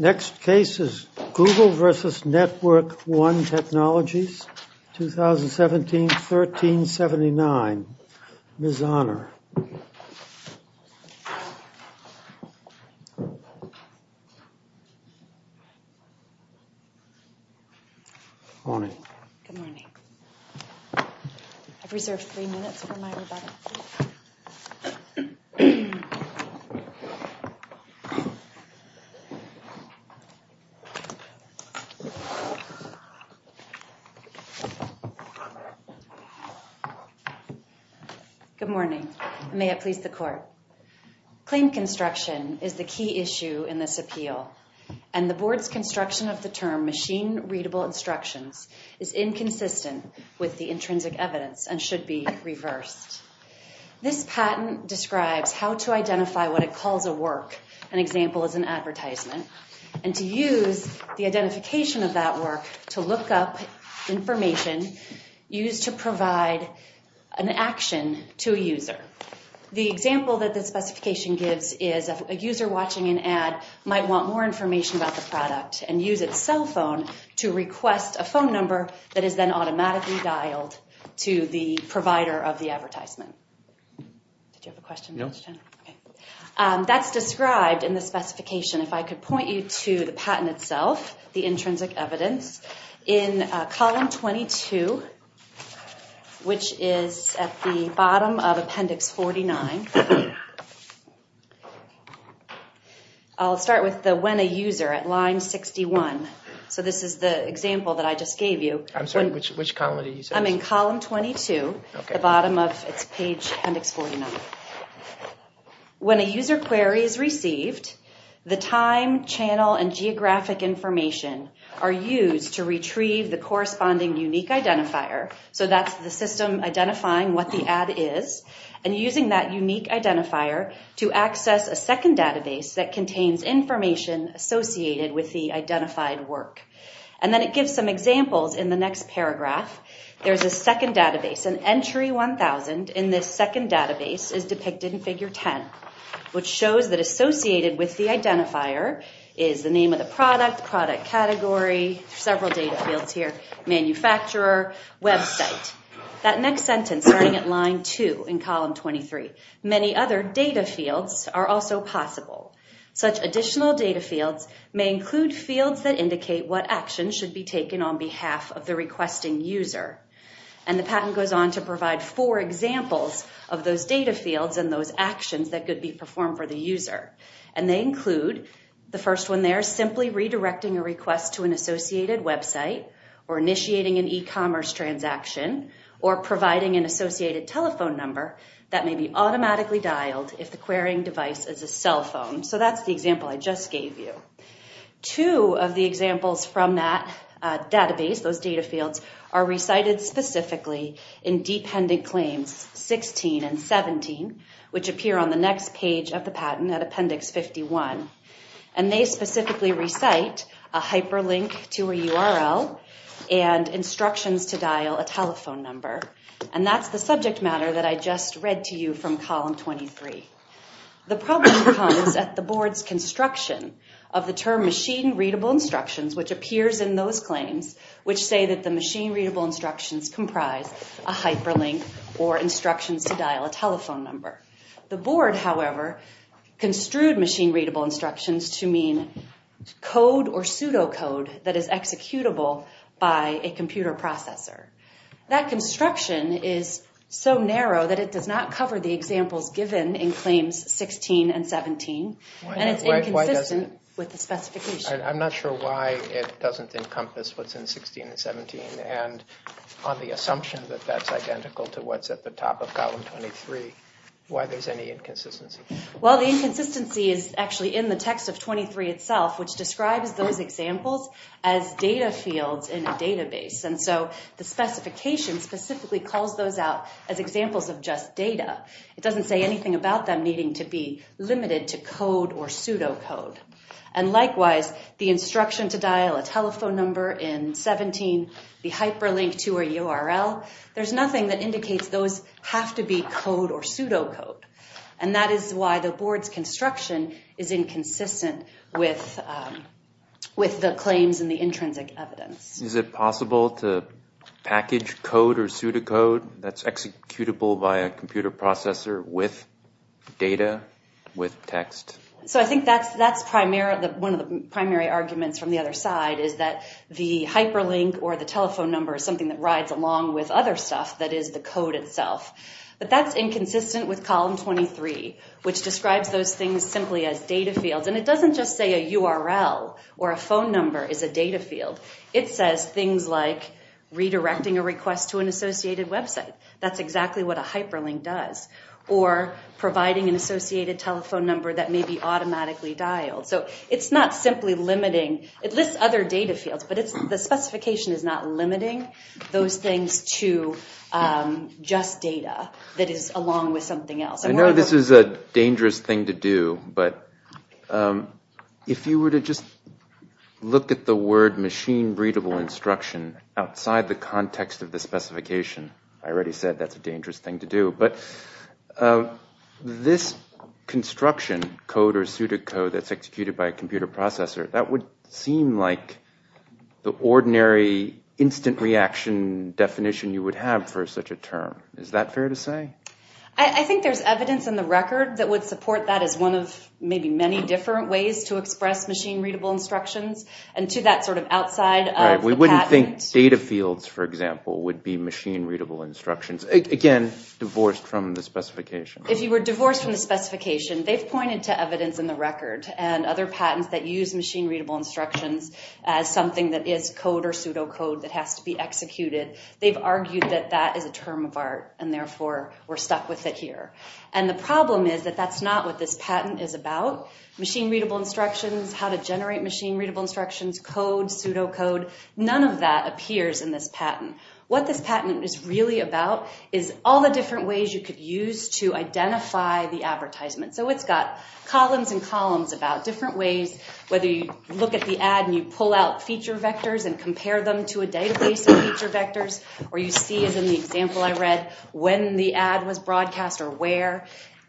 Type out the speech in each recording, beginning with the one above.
Next case is Google versus Network One technology. 2017-13-79, Ms. Honor. Good morning. I've reserved three minutes for my rebuttal. Good morning. May it please the court. Claim construction is the key issue in this appeal, and the board's construction of the term machine-readable instructions is inconsistent with the intrinsic evidence and should be reversed. This patent describes how to identify what it calls a work, an example is an advertisement, and to use the identification of that work to look up information used to provide an action to a user. The example that this specification gives is a user watching an ad might want more information about the product and use its cell phone to request a phone number that is then automatically dialed to the provider of the advertisement. Did you have a question? No. That's described in the specification. If I could point you to the patent itself, the intrinsic evidence, in column 22, which is at the bottom of appendix 49. I'll start with the when a user at line 61. So this is the example that I just gave you. I'm sorry, which column are you saying? I'm in column 22, the bottom of page appendix 49. When a user query is received, the time, channel, and geographic information are used to retrieve the corresponding unique identifier, so that's the system identifying what the ad is, and using that unique identifier to access a second database that contains information associated with the identified work. And then it gives some examples in the next paragraph. There's a second database, and entry 1000 in this second database is depicted in figure 10, which shows that associated with the identifier is the name of the product, product category, several data fields here, manufacturer, website. That next sentence starting at line 2 in column 23. Many other data fields are also possible. Such additional data fields may include fields that indicate what actions should be taken on behalf of the requesting user. And the patent goes on to provide four examples of those data fields and those actions that could be performed for the user. And they include the first one there, simply redirecting a request to an associated website or initiating an e-commerce transaction or providing an associated telephone number that may be automatically dialed if the querying device is a cell phone. So that's the example I just gave you. Two of the examples from that database, those data fields, are recited specifically in dependent claims 16 and 17, which appear on the next page of the patent at appendix 51. And they specifically recite a hyperlink to a URL and instructions to dial a telephone number. And that's the subject matter that I just read to you from column 23. The problem comes at the board's construction of the term machine-readable instructions, which appears in those claims, which say that the machine-readable instructions comprise a hyperlink or instructions to dial a telephone number. The board, however, construed machine-readable instructions to mean code or pseudocode that is executable by a computer processor. That construction is so narrow that it does not cover the examples given in claims 16 and 17, and it's inconsistent with the specification. I'm not sure why it doesn't encompass what's in 16 and 17. And on the assumption that that's identical to what's at the top of column 23, why there's any inconsistency? Well, the inconsistency is actually in the text of 23 itself, which describes those examples as data fields in a database. And so the specification specifically calls those out as examples of just data. It doesn't say anything about them needing to be limited to code or pseudocode. And likewise, the instruction to dial a telephone number in 17, the hyperlink to a URL, there's nothing that indicates those have to be code or pseudocode. And that is why the board's construction is inconsistent with the claims and the intrinsic evidence. Is it possible to package code or pseudocode that's executable by a computer processor with data, with text? So I think that's one of the primary arguments from the other side, is that the hyperlink or the telephone number is something that rides along with other stuff that is the code itself. But that's inconsistent with column 23, which describes those things simply as data fields. And it doesn't just say a URL or a phone number is a data field. It says things like redirecting a request to an associated website. That's exactly what a hyperlink does. Or providing an associated telephone number that may be automatically dialed. So it's not simply limiting. It lists other data fields, but the specification is not limiting those things to just data that is along with something else. I know this is a dangerous thing to do, but if you were to just look at the word machine-readable instruction outside the context of the specification, I already said that's a dangerous thing to do. But this construction, code or pseudocode, that's executed by a computer processor, that would seem like the ordinary instant reaction definition you would have for such a term. Is that fair to say? I think there's evidence in the record that would support that as one of maybe many different ways to express machine-readable instructions and to that sort of outside of the patent. We wouldn't think data fields, for example, would be machine-readable instructions. Again, divorced from the specification. If you were divorced from the specification, they've pointed to evidence in the record and other patents that use machine-readable instructions as something that is code or pseudocode that has to be executed. They've argued that that is a term of art and therefore we're stuck with it here. And the problem is that that's not what this patent is about. Machine-readable instructions, how to generate machine-readable instructions, code, pseudocode, none of that appears in this patent. What this patent is really about is all the different ways you could use to identify the advertisement. So it's got columns and columns about different ways, whether you look at the ad and you pull out feature vectors and compare them to a database of feature vectors or you see, as in the example I read, when the ad was broadcast or where.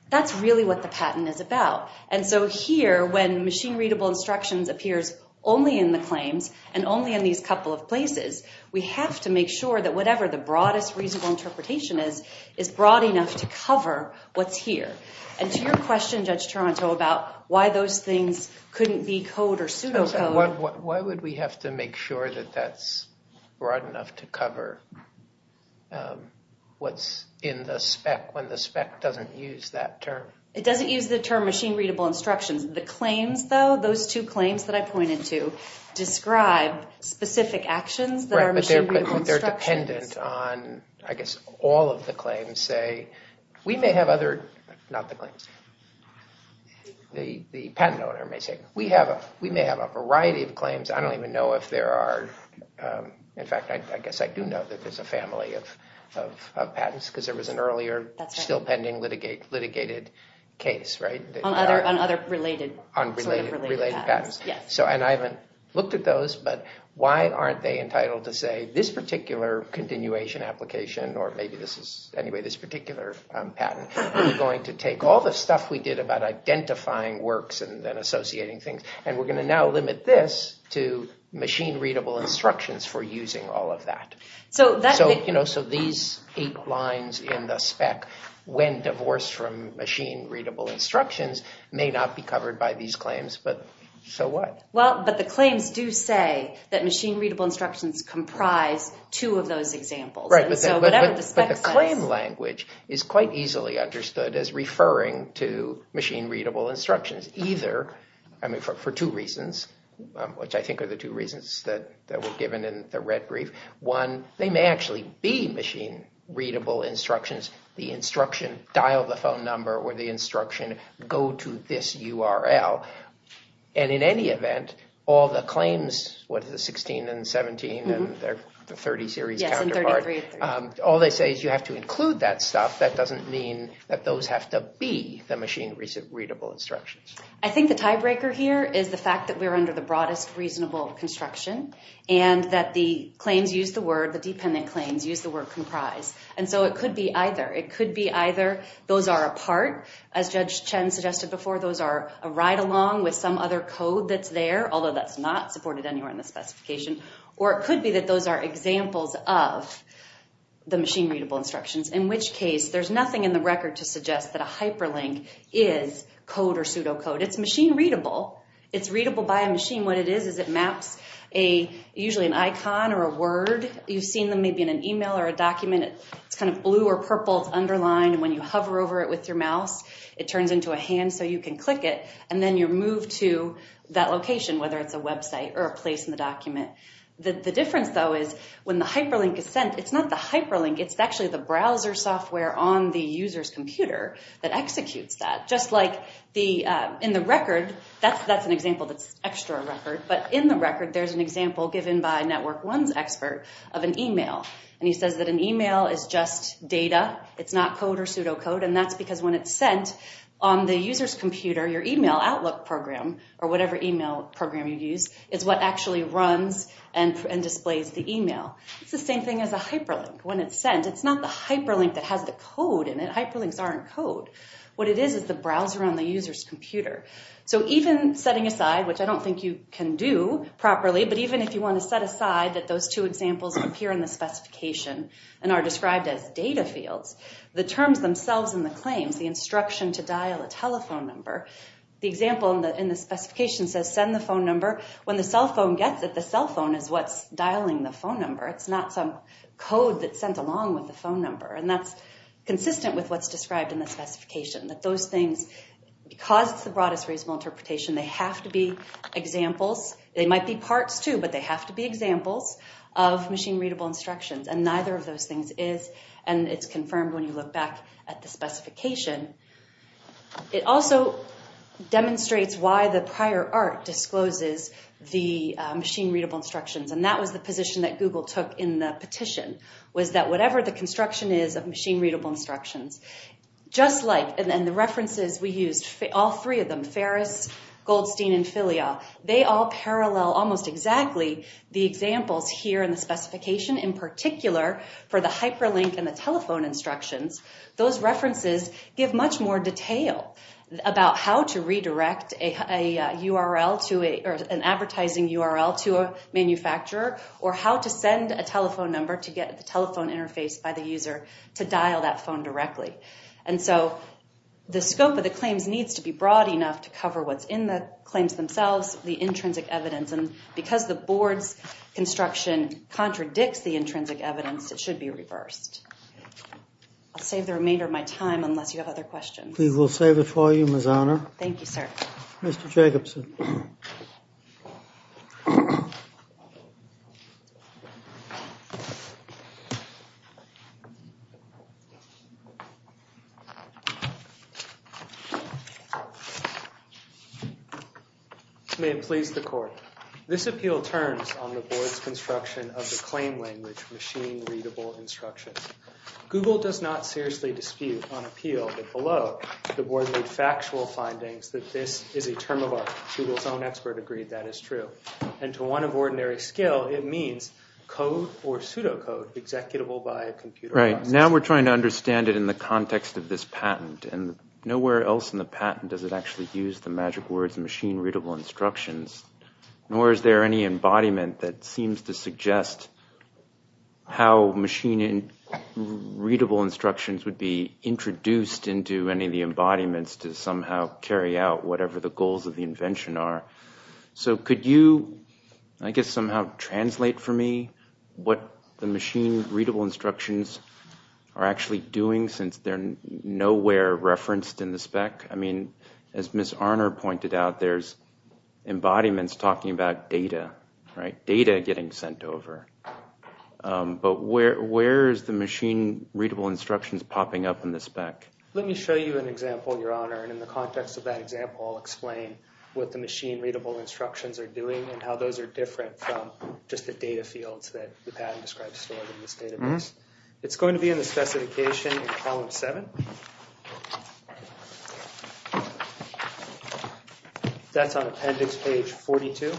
That's really what the patent is about. And so here, when machine-readable instructions appears only in the claims and only in these couple of places, we have to make sure that whatever the broadest reasonable interpretation is is broad enough to cover what's here. And to your question, Judge Toronto, about why those things couldn't be code or pseudocode... Why would we have to make sure that that's broad enough to cover what's in the spec when the spec doesn't use that term? It doesn't use the term machine-readable instructions. The claims, though, those two claims that I pointed to, describe specific actions that are machine-readable instructions. Right, but they're dependent on... I guess all of the claims say... We may have other... Not the claims. The patent owner may say, we may have a variety of claims. I don't even know if there are... In fact, I guess I do know that there's a family of patents because there was an earlier, still pending, litigated case. On other related patents. And I haven't looked at those, but why aren't they entitled to say, this particular continuation application, or maybe this particular patent, we're going to take all the stuff we did about identifying works and then associating things, and we're going to now limit this to machine-readable instructions for using all of that. So these eight lines in the spec, when divorced from machine-readable instructions, may not be covered by these claims, but so what? Well, but the claims do say that machine-readable instructions comprise two of those examples. Right, but the claim language is quite easily understood as referring to machine-readable instructions, either for two reasons, which I think are the two reasons that were given in the red brief. One, they may actually be machine-readable instructions. The instruction, dial the phone number, or the instruction, go to this URL. And in any event, all the claims, what is it, 16 and 17 and the 30 series counterpart, all they say is you have to include that stuff. That doesn't mean that those have to be the machine-readable instructions. I think the tiebreaker here is the fact that we're under the broadest reasonable construction and that the claims use the word, the dependent claims use the word comprise. And so it could be either. It could be either those are a part, as Judge Chen suggested before, those are a ride-along with some other code that's there, although that's not supported anywhere in the specification, or it could be that those are examples of the machine-readable instructions, in which case there's nothing in the record to suggest that a hyperlink is code or pseudocode. It's machine-readable. It's readable by a machine. What it is is it maps usually an icon or a word. You've seen them maybe in an email or a document. It's kind of blue or purple, it's underlined, and when you hover over it with your mouse, it turns into a hand so you can click it, and then you're moved to that location, whether it's a website or a place in the document. The difference, though, is when the hyperlink is sent, it's not the hyperlink, it's actually the browser software on the user's computer that executes that, just like in the record, that's an example that's extra record, but in the record, there's an example given by Network One's expert of an email, and he says that an email is just data. It's not code or pseudocode, and that's because when it's sent on the user's computer, your email outlook program, or whatever email program you use, is what actually runs and displays the email. It's the same thing as a hyperlink. When it's sent, it's not the hyperlink that has the code in it. Hyperlinks aren't code. What it is is the browser on the user's computer. So even setting aside, which I don't think you can do properly, but even if you want to set aside that those two examples appear in the specification and are described as data fields, the terms themselves in the claims, the instruction to dial a telephone number, the example in the specification says send the phone number. When the cell phone gets it, the cell phone is what's dialing the phone number. It's not some code that's sent along with the phone number, and that's consistent with what's described in the specification, that those things, because it's the broadest reasonable interpretation, they have to be examples. They might be parts, too, but they have to be examples of machine-readable instructions, and neither of those things is, and it's confirmed when you look back at the specification. It also demonstrates why the prior art discloses the machine-readable instructions, and that was the position that Google took in the petition, was that whatever the construction is of machine-readable instructions, just like, and the references we used, all three of them, Ferris, Goldstein, and Filia, they all parallel almost exactly the examples here in the specification, in particular for the hyperlink and the telephone instructions. Those references give much more detail about how to redirect a URL to a, or an advertising URL to a manufacturer, or how to send a telephone number to get the telephone interface by the user to dial that phone directly. And so the scope of the claims needs to be broad enough to cover what's in the claims themselves, the intrinsic evidence, and because the board's construction contradicts the intrinsic evidence, it should be reversed. I'll save the remainder of my time unless you have other questions. Please, we'll save it for you, Ms. Honor. Thank you, sir. Mr. Jacobson. Thank you. May it please the court. This appeal turns on the board's construction of the claim language, machine-readable instructions. Google does not seriously dispute on appeal that below, the board made factual findings that this is a term of art. Google's own expert agreed that is true. And to one of ordinary skill, it means code or pseudocode executable by a computer. Right. Now we're trying to understand it in the context of this patent. And nowhere else in the patent does it actually use the magic words machine-readable instructions, nor is there any embodiment that seems to suggest how machine-readable instructions would be introduced into any of the embodiments to somehow carry out whatever the goals of the invention are. So could you, I guess, somehow translate for me what the machine-readable instructions are actually doing since they're nowhere referenced in the spec? I mean, as Ms. Arnor pointed out, there's embodiments talking about data, right? Data getting sent over. But where is the machine-readable instructions popping up in the spec? Let me show you an example, Your Honor. And in the context of that example, I'll explain what the machine-readable instructions are doing and how those are different from just the data fields that the patent describes stored in this database. It's going to be in the specification in column 7. That's on appendix page 42.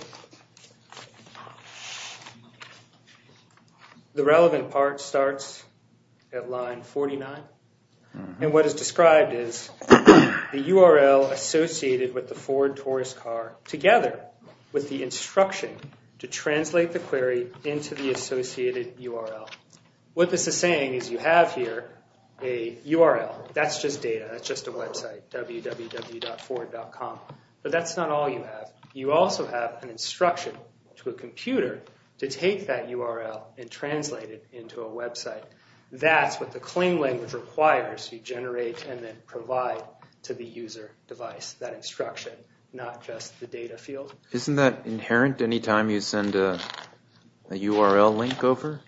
The relevant part starts at line 49. And what is described is the URL associated with the Ford Taurus car together with the instruction to translate the query into the associated URL. What this is saying is you have here a URL. That's just data. That's just a website, www.ford.com. But that's not all you have. You also have an instruction to a computer to take that URL and translate it into a website. That's what the claim language requires to generate and then provide to the user device, that instruction, not just the data field. Isn't that inherent any time you send a URL link over?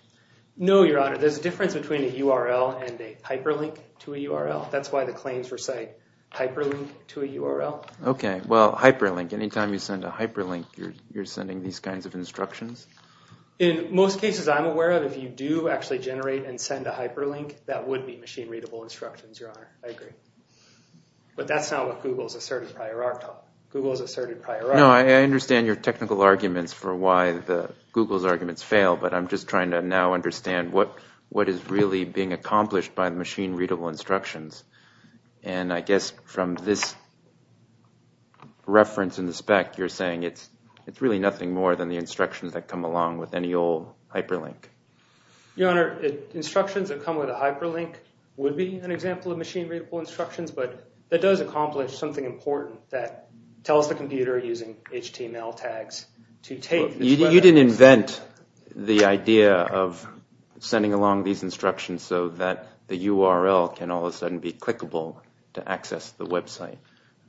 No, Your Honor. There's a difference between a URL and a hyperlink to a URL. That's why the claims recite hyperlink to a URL. OK. Well, hyperlink. Any time you send a hyperlink, you're sending these kinds of instructions? In most cases I'm aware of, if you do actually generate and send a hyperlink, that would be machine-readable instructions, Your Honor. I agree. But that's not what Google's asserted prior article. Google's asserted prior article. No, I understand your technical arguments for why Google's arguments fail. But I'm just trying to now understand what is really being accomplished by machine-readable instructions. And I guess from this reference in the spec, you're saying it's really nothing more than the instructions that come along with any old hyperlink. Your Honor, instructions that come with a hyperlink would be an example of machine-readable instructions. But that does accomplish something important that tells the computer using HTML tags to take this web address. You didn't invent the idea of sending along these instructions so that the URL can all of a sudden be clickable to access the website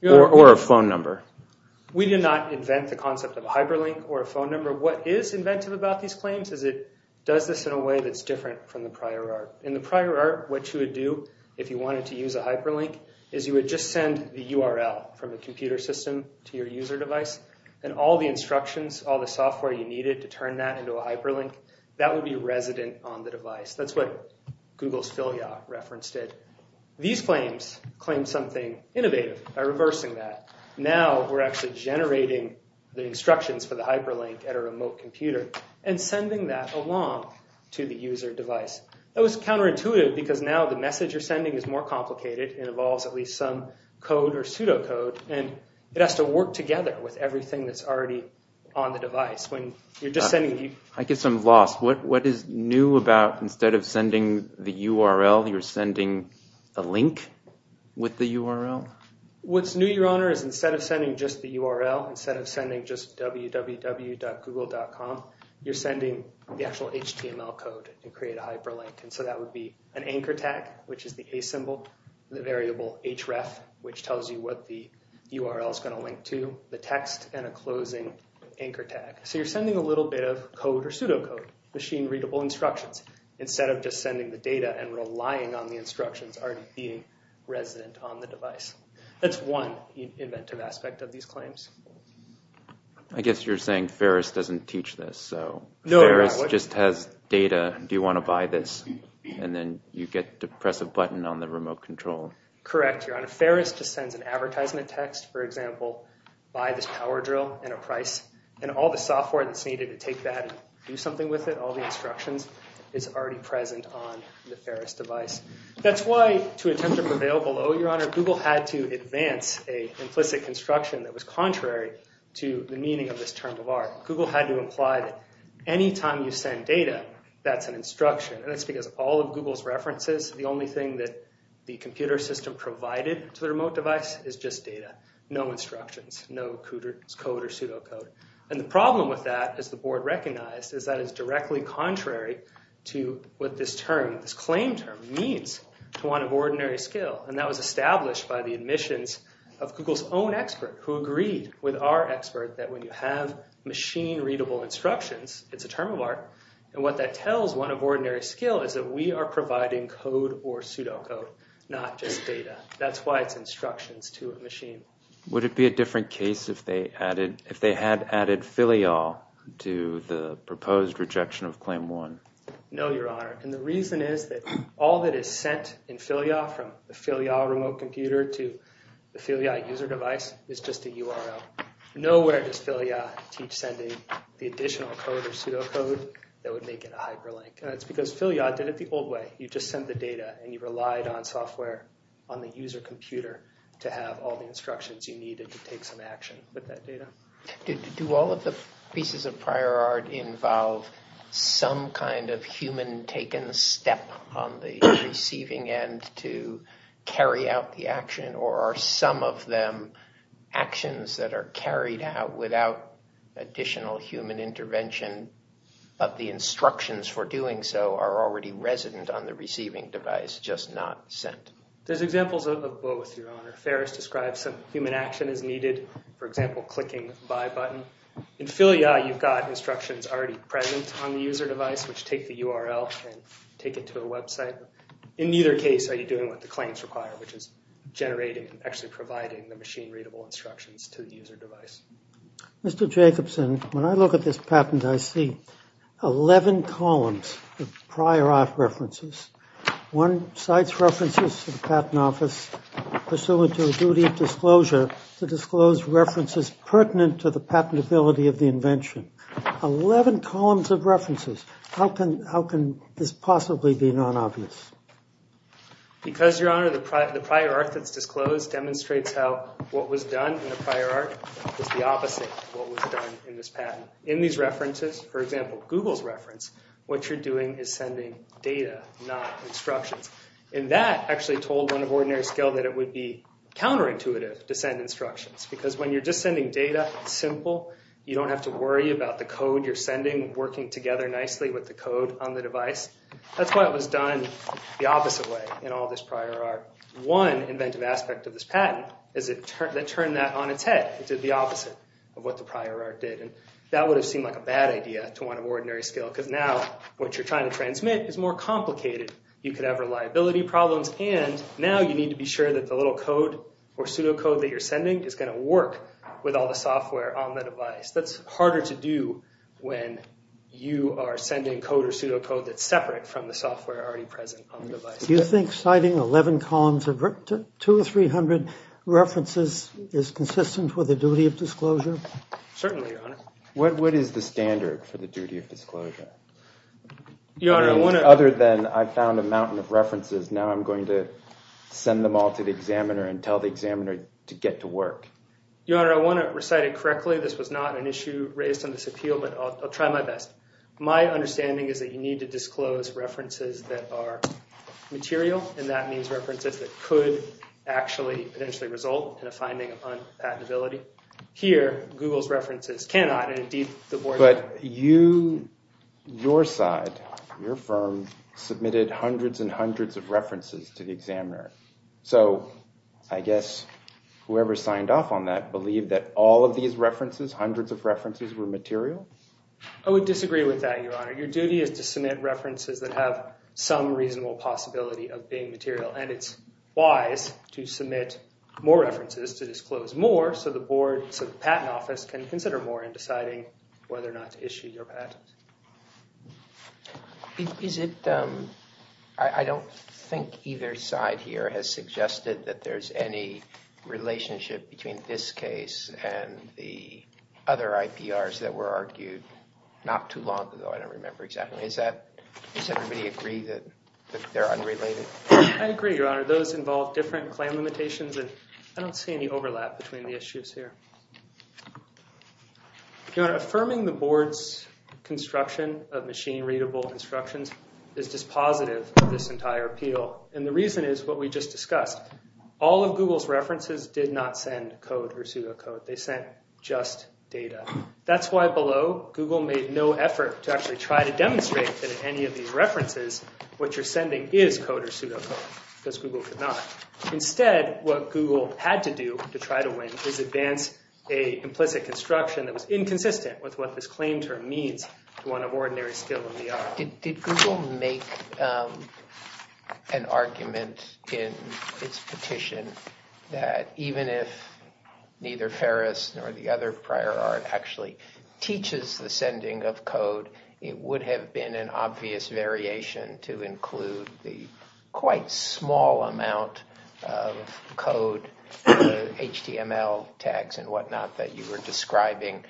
or a phone number. We did not invent the concept of a hyperlink or a phone number. What is inventive about these claims is it does this in a way that's different from the prior art. In the prior art, what you would do if you wanted to use a hyperlink is you would just send the URL from the computer system to your user device. And all the instructions, all the software you needed to turn that into a hyperlink, that would be resident on the device. That's what Google's filia reference did. These claims claim something innovative by reversing that. Now we're actually generating the instructions for the hyperlink at a remote computer and sending that along to the user device. That was counterintuitive because now the message you're sending is more complicated. It involves at least some code or pseudocode. It has to work together with everything that's already on the device. When you're just sending... I guess I'm lost. What is new about instead of sending the URL, you're sending a link with the URL? What's new, Your Honor, is instead of sending just the URL, instead of sending just www.google.com, you're sending the actual HTML code to create a hyperlink. That would be an anchor tag, which is the A symbol, the variable href, which tells you what the URL is going to link to, the text, and a closing anchor tag. You're sending a little bit of code or pseudocode, machine-readable instructions, instead of just sending the data and relying on the instructions already being resident on the device. That's one inventive aspect of these claims. I guess you're saying Ferris doesn't teach this. Ferris just has data. Do you want to buy this, and then you press a button on the remote control? Correct, Your Honor. Ferris just sends an advertisement text, for example, buy this power drill at a price, and all the software that's needed to take that and do something with it, all the instructions, is already present on the Ferris device. That's why, to attempt to prevail below, Your Honor, Google had to advance an implicit construction that was contrary to the meaning of this term of art. Google had to imply that any time you send data, that's an instruction. That's because all of Google's references, the only thing that the computer system provided to the remote device, is just data. No instructions, no code or pseudocode. The problem with that, as the board recognized, is that it's directly contrary to what this term, this claim term, means to one of ordinary skill. That was established by the admissions of Google's own expert, who agreed with our expert that when you have machine-readable instructions, it's a term of art, and what that tells one of ordinary skill is that we are providing code or pseudocode, not just data. That's why it's instructions to a machine. Would it be a different case if they had added filial to the proposed rejection of Claim 1? No, Your Honor, and the reason is that all that is sent in filial, from the filial remote computer to the filial user device, is just a URL. Nowhere does filial teach sending the additional code or pseudocode that would make it a hyperlink. That's because filial did it the old way. You just sent the data, and you relied on software on the user computer to have all the instructions you needed to take some action with that data. Do all of the pieces of prior art involve some kind of human-taken step on the receiving end to carry out the action, or are some of them actions that are carried out without additional human intervention, but the instructions for doing so are already resident on the receiving device, just not sent? There's examples of both, Your Honor. Ferris describes some human action as needed, for example, clicking the Buy button. In filial, you've got instructions already present on the user device, which take the URL and take it to a website. In either case, are you doing what the claims require, which is generating and actually providing the machine-readable instructions to the user device? Mr. Jacobson, when I look at this patent, I see 11 columns of prior art references. One cites references to the patent office pursuant to a duty of disclosure to disclose references pertinent to the patentability of the invention. 11 columns of references. How can this possibly be non-obvious? Because, Your Honor, the prior art that's disclosed demonstrates how what was done in the prior art is the opposite of what was done in this patent. In these references, for example, Google's reference, what you're doing is sending data, not instructions. And that actually told one of Ordinary Scale that it would be counterintuitive to send instructions because when you're just sending data, it's simple. You don't have to worry about the code you're sending working together nicely with the code on the device. That's why it was done the opposite way in all this prior art. One inventive aspect of this patent is it turned that on its head. It did the opposite of what the prior art did. That would have seemed like a bad idea to one of Ordinary Scale because now what you're trying to transmit is more complicated. You could have reliability problems and now you need to be sure that the little code or pseudocode that you're sending is going to work with all the software on the device. That's harder to do when you are sending code or pseudocode that's separate from the software already present on the device. Do you think citing 11 columns of 2 or 300 references is consistent with the duty of disclosure? Certainly, Your Honor. What is the standard for the duty of disclosure? Your Honor, I want to... Other than I found a mountain of references, now I'm going to send them all to the examiner and tell the examiner to get to work. Your Honor, I want to recite it correctly. This was not an issue raised on this appeal, but I'll try my best. My understanding is that you need to disclose references that are material, and that means references that could actually potentially result in a finding of unpatentability. Here, Google's references cannot, and indeed the board... But you, your side, your firm, submitted hundreds and hundreds of references to the examiner. So I guess whoever signed off on that believed that all of these references, hundreds of references, were material? I would disagree with that, Your Honor. Your duty is to submit references that have some reasonable possibility of being material, and it's wise to submit more references to disclose more so the board, so the patent office can consider more in deciding whether or not to issue your patent. Is it... I don't think either side here has suggested that there's any relationship between this case and the other IPRs that were argued not too long ago. I don't remember exactly. Does everybody agree that they're unrelated? I agree, Your Honor. Those involve different claim limitations, and I don't see any overlap between the issues here. Your Honor, affirming the board's construction of machine-readable instructions is dispositive of this entire appeal, and the reason is what we just discussed. All of Google's references did not send code or pseudocode. They sent just data. That's why below, Google made no effort to actually try to demonstrate that in any of these references, what you're sending is code or pseudocode, because Google could not. Instead, what Google had to do to try to win is advance a implicit construction that was inconsistent with what this claim term means to one of ordinary skill in the art. Did Google make an argument in its petition that even if neither Ferris nor the other prior art actually teaches the sending of code, it would have been an obvious variation to include the quite small amount of code, HTML tags and whatnot that you were describing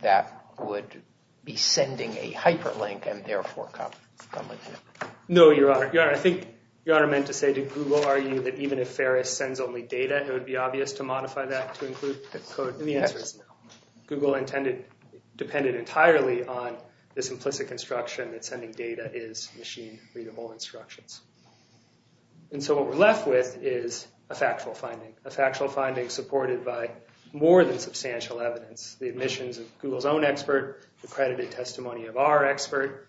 that would be sending a hyperlink and therefore come with it? No, Your Honor. I think Your Honor meant to say, did Google argue that even if Ferris sends only data, it would be obvious to modify that to include code? The answer is no. Google depended entirely on this implicit construction that sending data is machine-readable instructions. And so what we're left with is a factual finding, a factual finding supported by more than substantial evidence, the admissions of Google's own expert, the credited testimony of our expert,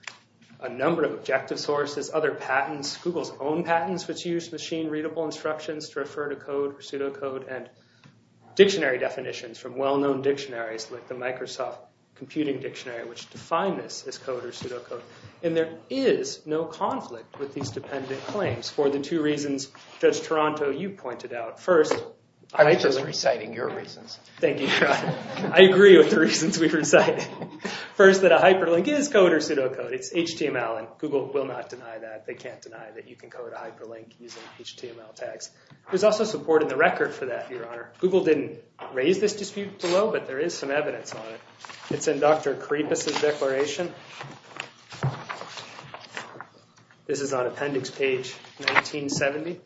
a number of objective sources, other patents, Google's own patents which use machine-readable instructions to refer to code or pseudocode, and dictionary definitions from well-known dictionaries like the Microsoft Computing Dictionary which define this as code or pseudocode. And there is no conflict with these dependent claims for the two reasons Judge Toronto, you pointed out. I was just reciting your reasons. Thank you, Your Honor. I agree with the reasons we recited. First, that a hyperlink is code or pseudocode. It's HTML, and Google will not deny that. They can't deny that you can code a hyperlink using HTML tags. There's also support in the record for that, Your Honor. Google didn't raise this dispute below, but there is some evidence on it. It's in Dr. Kripis' declaration. This is on appendix page 1970.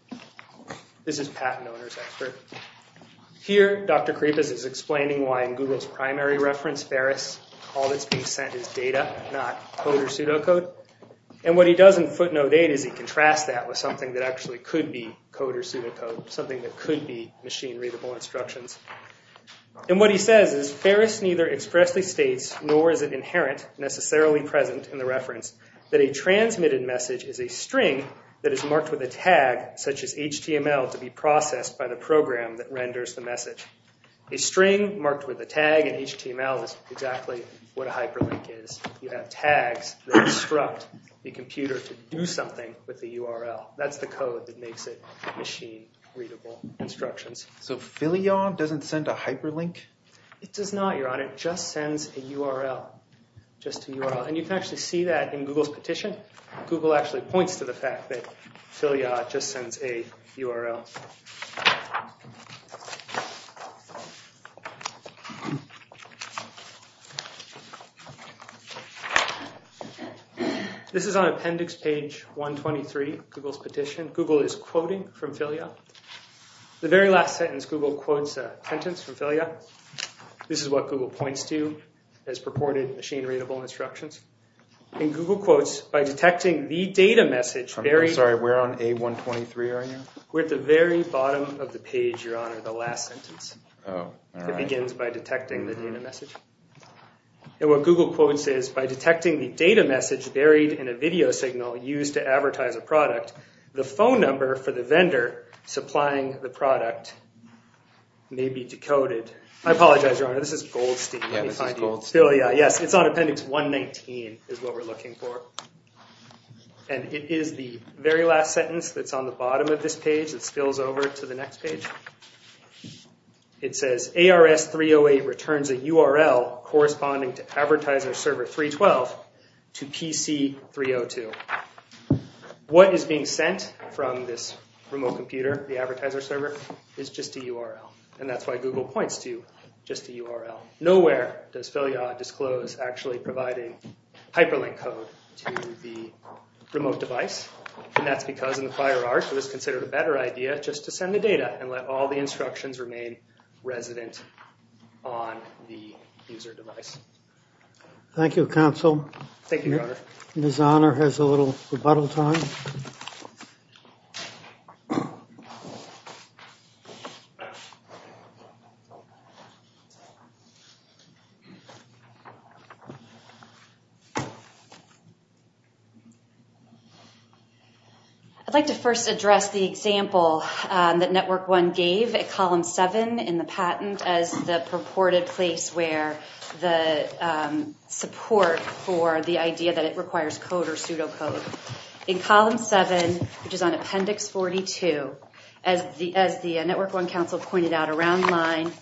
This is a patent owner's expert. Here Dr. Kripis is explaining why in Google's primary reference, Ferris, all that's being sent is data, not code or pseudocode. And what he does in footnote 8 is he contrasts that with something that actually could be code or pseudocode, something that could be machine-readable instructions. And what he says is, Ferris neither expressly states, nor is it inherent, necessarily present in the reference, that a transmitted message is a string that is marked with a tag, such as HTML, to be processed by the program that renders the message. A string marked with a tag in HTML is exactly what a hyperlink is. You have tags that instruct the computer to do something with the URL. That's the code that makes it machine-readable instructions. So Filial doesn't send a hyperlink? It does not, Your Honor. It just sends a URL. Just a URL. And you can actually see that in Google's petition. Google actually points to the fact that Filial just sends a URL. This is on appendix page 123, Google's petition. Google is quoting from Filial. The very last sentence, Google quotes a sentence from Filial. This is what Google points to as purported machine-readable instructions. And Google quotes, by detecting the data message... I'm sorry, we're on A123 right now? We're at the very bottom of the page, Your Honor, the last sentence. Oh, all right. It begins by detecting the data message. And what Google quotes is, by detecting the data message buried in a video signal used to advertise a product, the phone number for the vendor supplying the product may be decoded. I apologize, Your Honor, this is Goldstein. Yeah, this is Goldstein. Yes, it's on appendix 119 is what we're looking for. And it is the very last sentence that's on the bottom of this page that spills over to the next page. It says, ARS 308 returns a URL corresponding to advertiser server 312 to PC 302. What is being sent from this remote computer, the advertiser server, is just a URL. And that's why Google points to just a URL. Nowhere does Filial disclose actually providing hyperlink code to the remote device. And that's because in the prior art, it was considered a better idea just to send the data and let all the instructions remain resident on the user device. Thank you, counsel. Thank you, Your Honor. Ms. Honor has a little rebuttal time. I'd like to first address the example that Network One gave at column 7 in the patent as the purported place where the support for the idea that it requires code or pseudocode. In column 7, which is on appendix 42, as the Network One counsel pointed out around line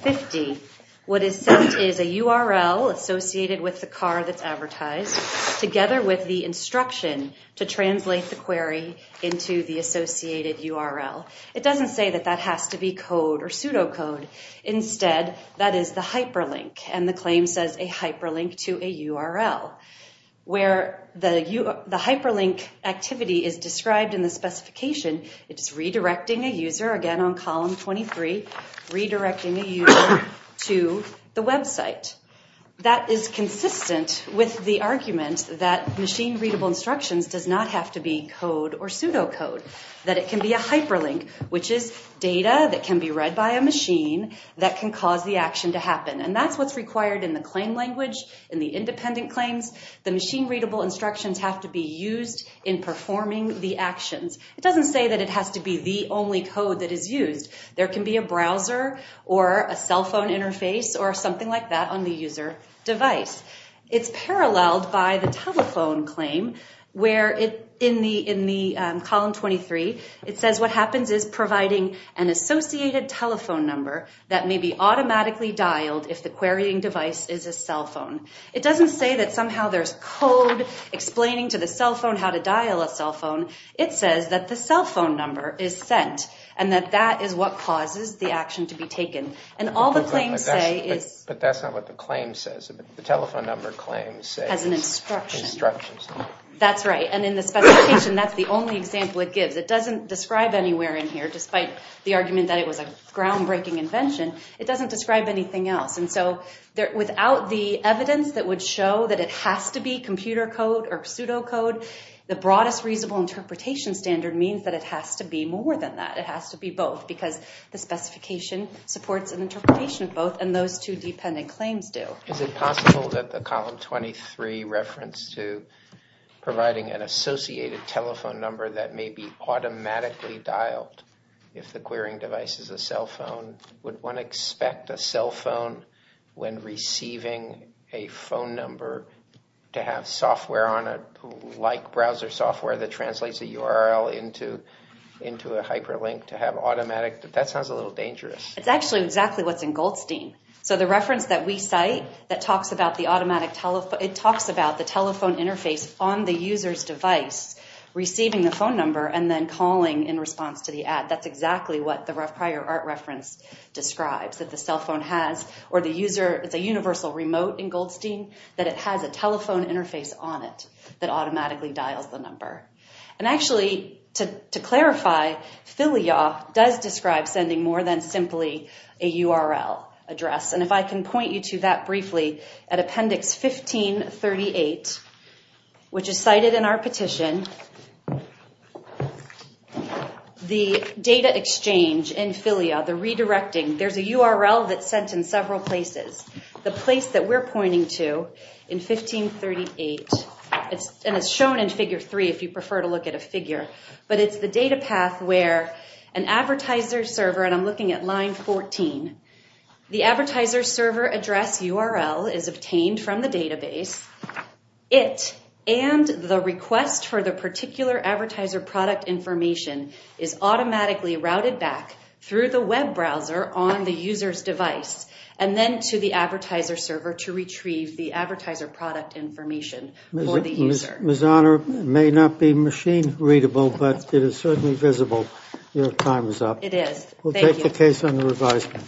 50, what is sent is a URL associated with the car that's advertised, together with the instruction to translate the query into the associated URL. It doesn't say that that has to be code or pseudocode. Instead, that is the hyperlink, and the claim says a hyperlink to a URL. Where the hyperlink activity is described in the specification, it is redirecting a user, again on column 23, redirecting a user to the website. That is consistent with the argument that machine-readable instructions does not have to be code or pseudocode, that it can be a hyperlink, which is data that can be read by a machine that can cause the action to happen. And that's what's required in the claim language, in the independent claims. The machine-readable instructions have to be used in performing the actions. It doesn't say that it has to be the only code that is used. There can be a browser or a cell phone interface or something like that on the user device. It's paralleled by the telephone claim, where in column 23, it says what happens is providing an associated telephone number that may be automatically dialed if the querying device is a cell phone. It doesn't say that somehow there's code explaining to the cell phone how to dial a cell phone. It says that the cell phone number is sent and that that is what causes the action to be taken. And all the claims say is... But that's not what the claim says. The telephone number claim says... Has an instruction. Instructions. That's right. And in the specification, that's the only example it gives. It doesn't describe anywhere in here, despite the argument that it was a groundbreaking invention, it doesn't describe anything else. And so without the evidence that would show that it has to be computer code or pseudocode, the broadest reasonable interpretation standard means that it has to be more than that. It has to be both, because the specification supports an interpretation of both, and those two dependent claims do. Is it possible that the column 23 reference to providing an associated telephone number that may be automatically dialed if the querying device is a cell phone, would one expect a cell phone, when receiving a phone number, to have software on it, like browser software that translates a URL into a hyperlink to have automatic... That sounds a little dangerous. It's actually exactly what's in Goldstein. So the reference that we cite that talks about the automatic telephone... It talks about the telephone interface on the user's device, receiving the phone number and then calling in response to the ad. That's exactly what the prior art reference describes, that the cell phone has... It's a universal remote in Goldstein, that it has a telephone interface on it that automatically dials the number. And actually, to clarify, FILIA does describe sending more than simply a URL address. And if I can point you to that briefly, at Appendix 1538, which is cited in our petition, the data exchange in FILIA, the redirecting. There's a URL that's sent in several places. The place that we're pointing to in 1538... And it's shown in Figure 3, if you prefer to look at a figure. But it's the data path where an advertiser server... And I'm looking at line 14. The advertiser server address URL is obtained from the database. It and the request for the particular advertiser product information is automatically routed back through the web browser on the user's device and then to the advertiser server to retrieve the advertiser product information for the user. Ms. Honor, it may not be machine readable, but it is certainly visible. Your time is up. It is. Thank you. We'll take the case under advisement.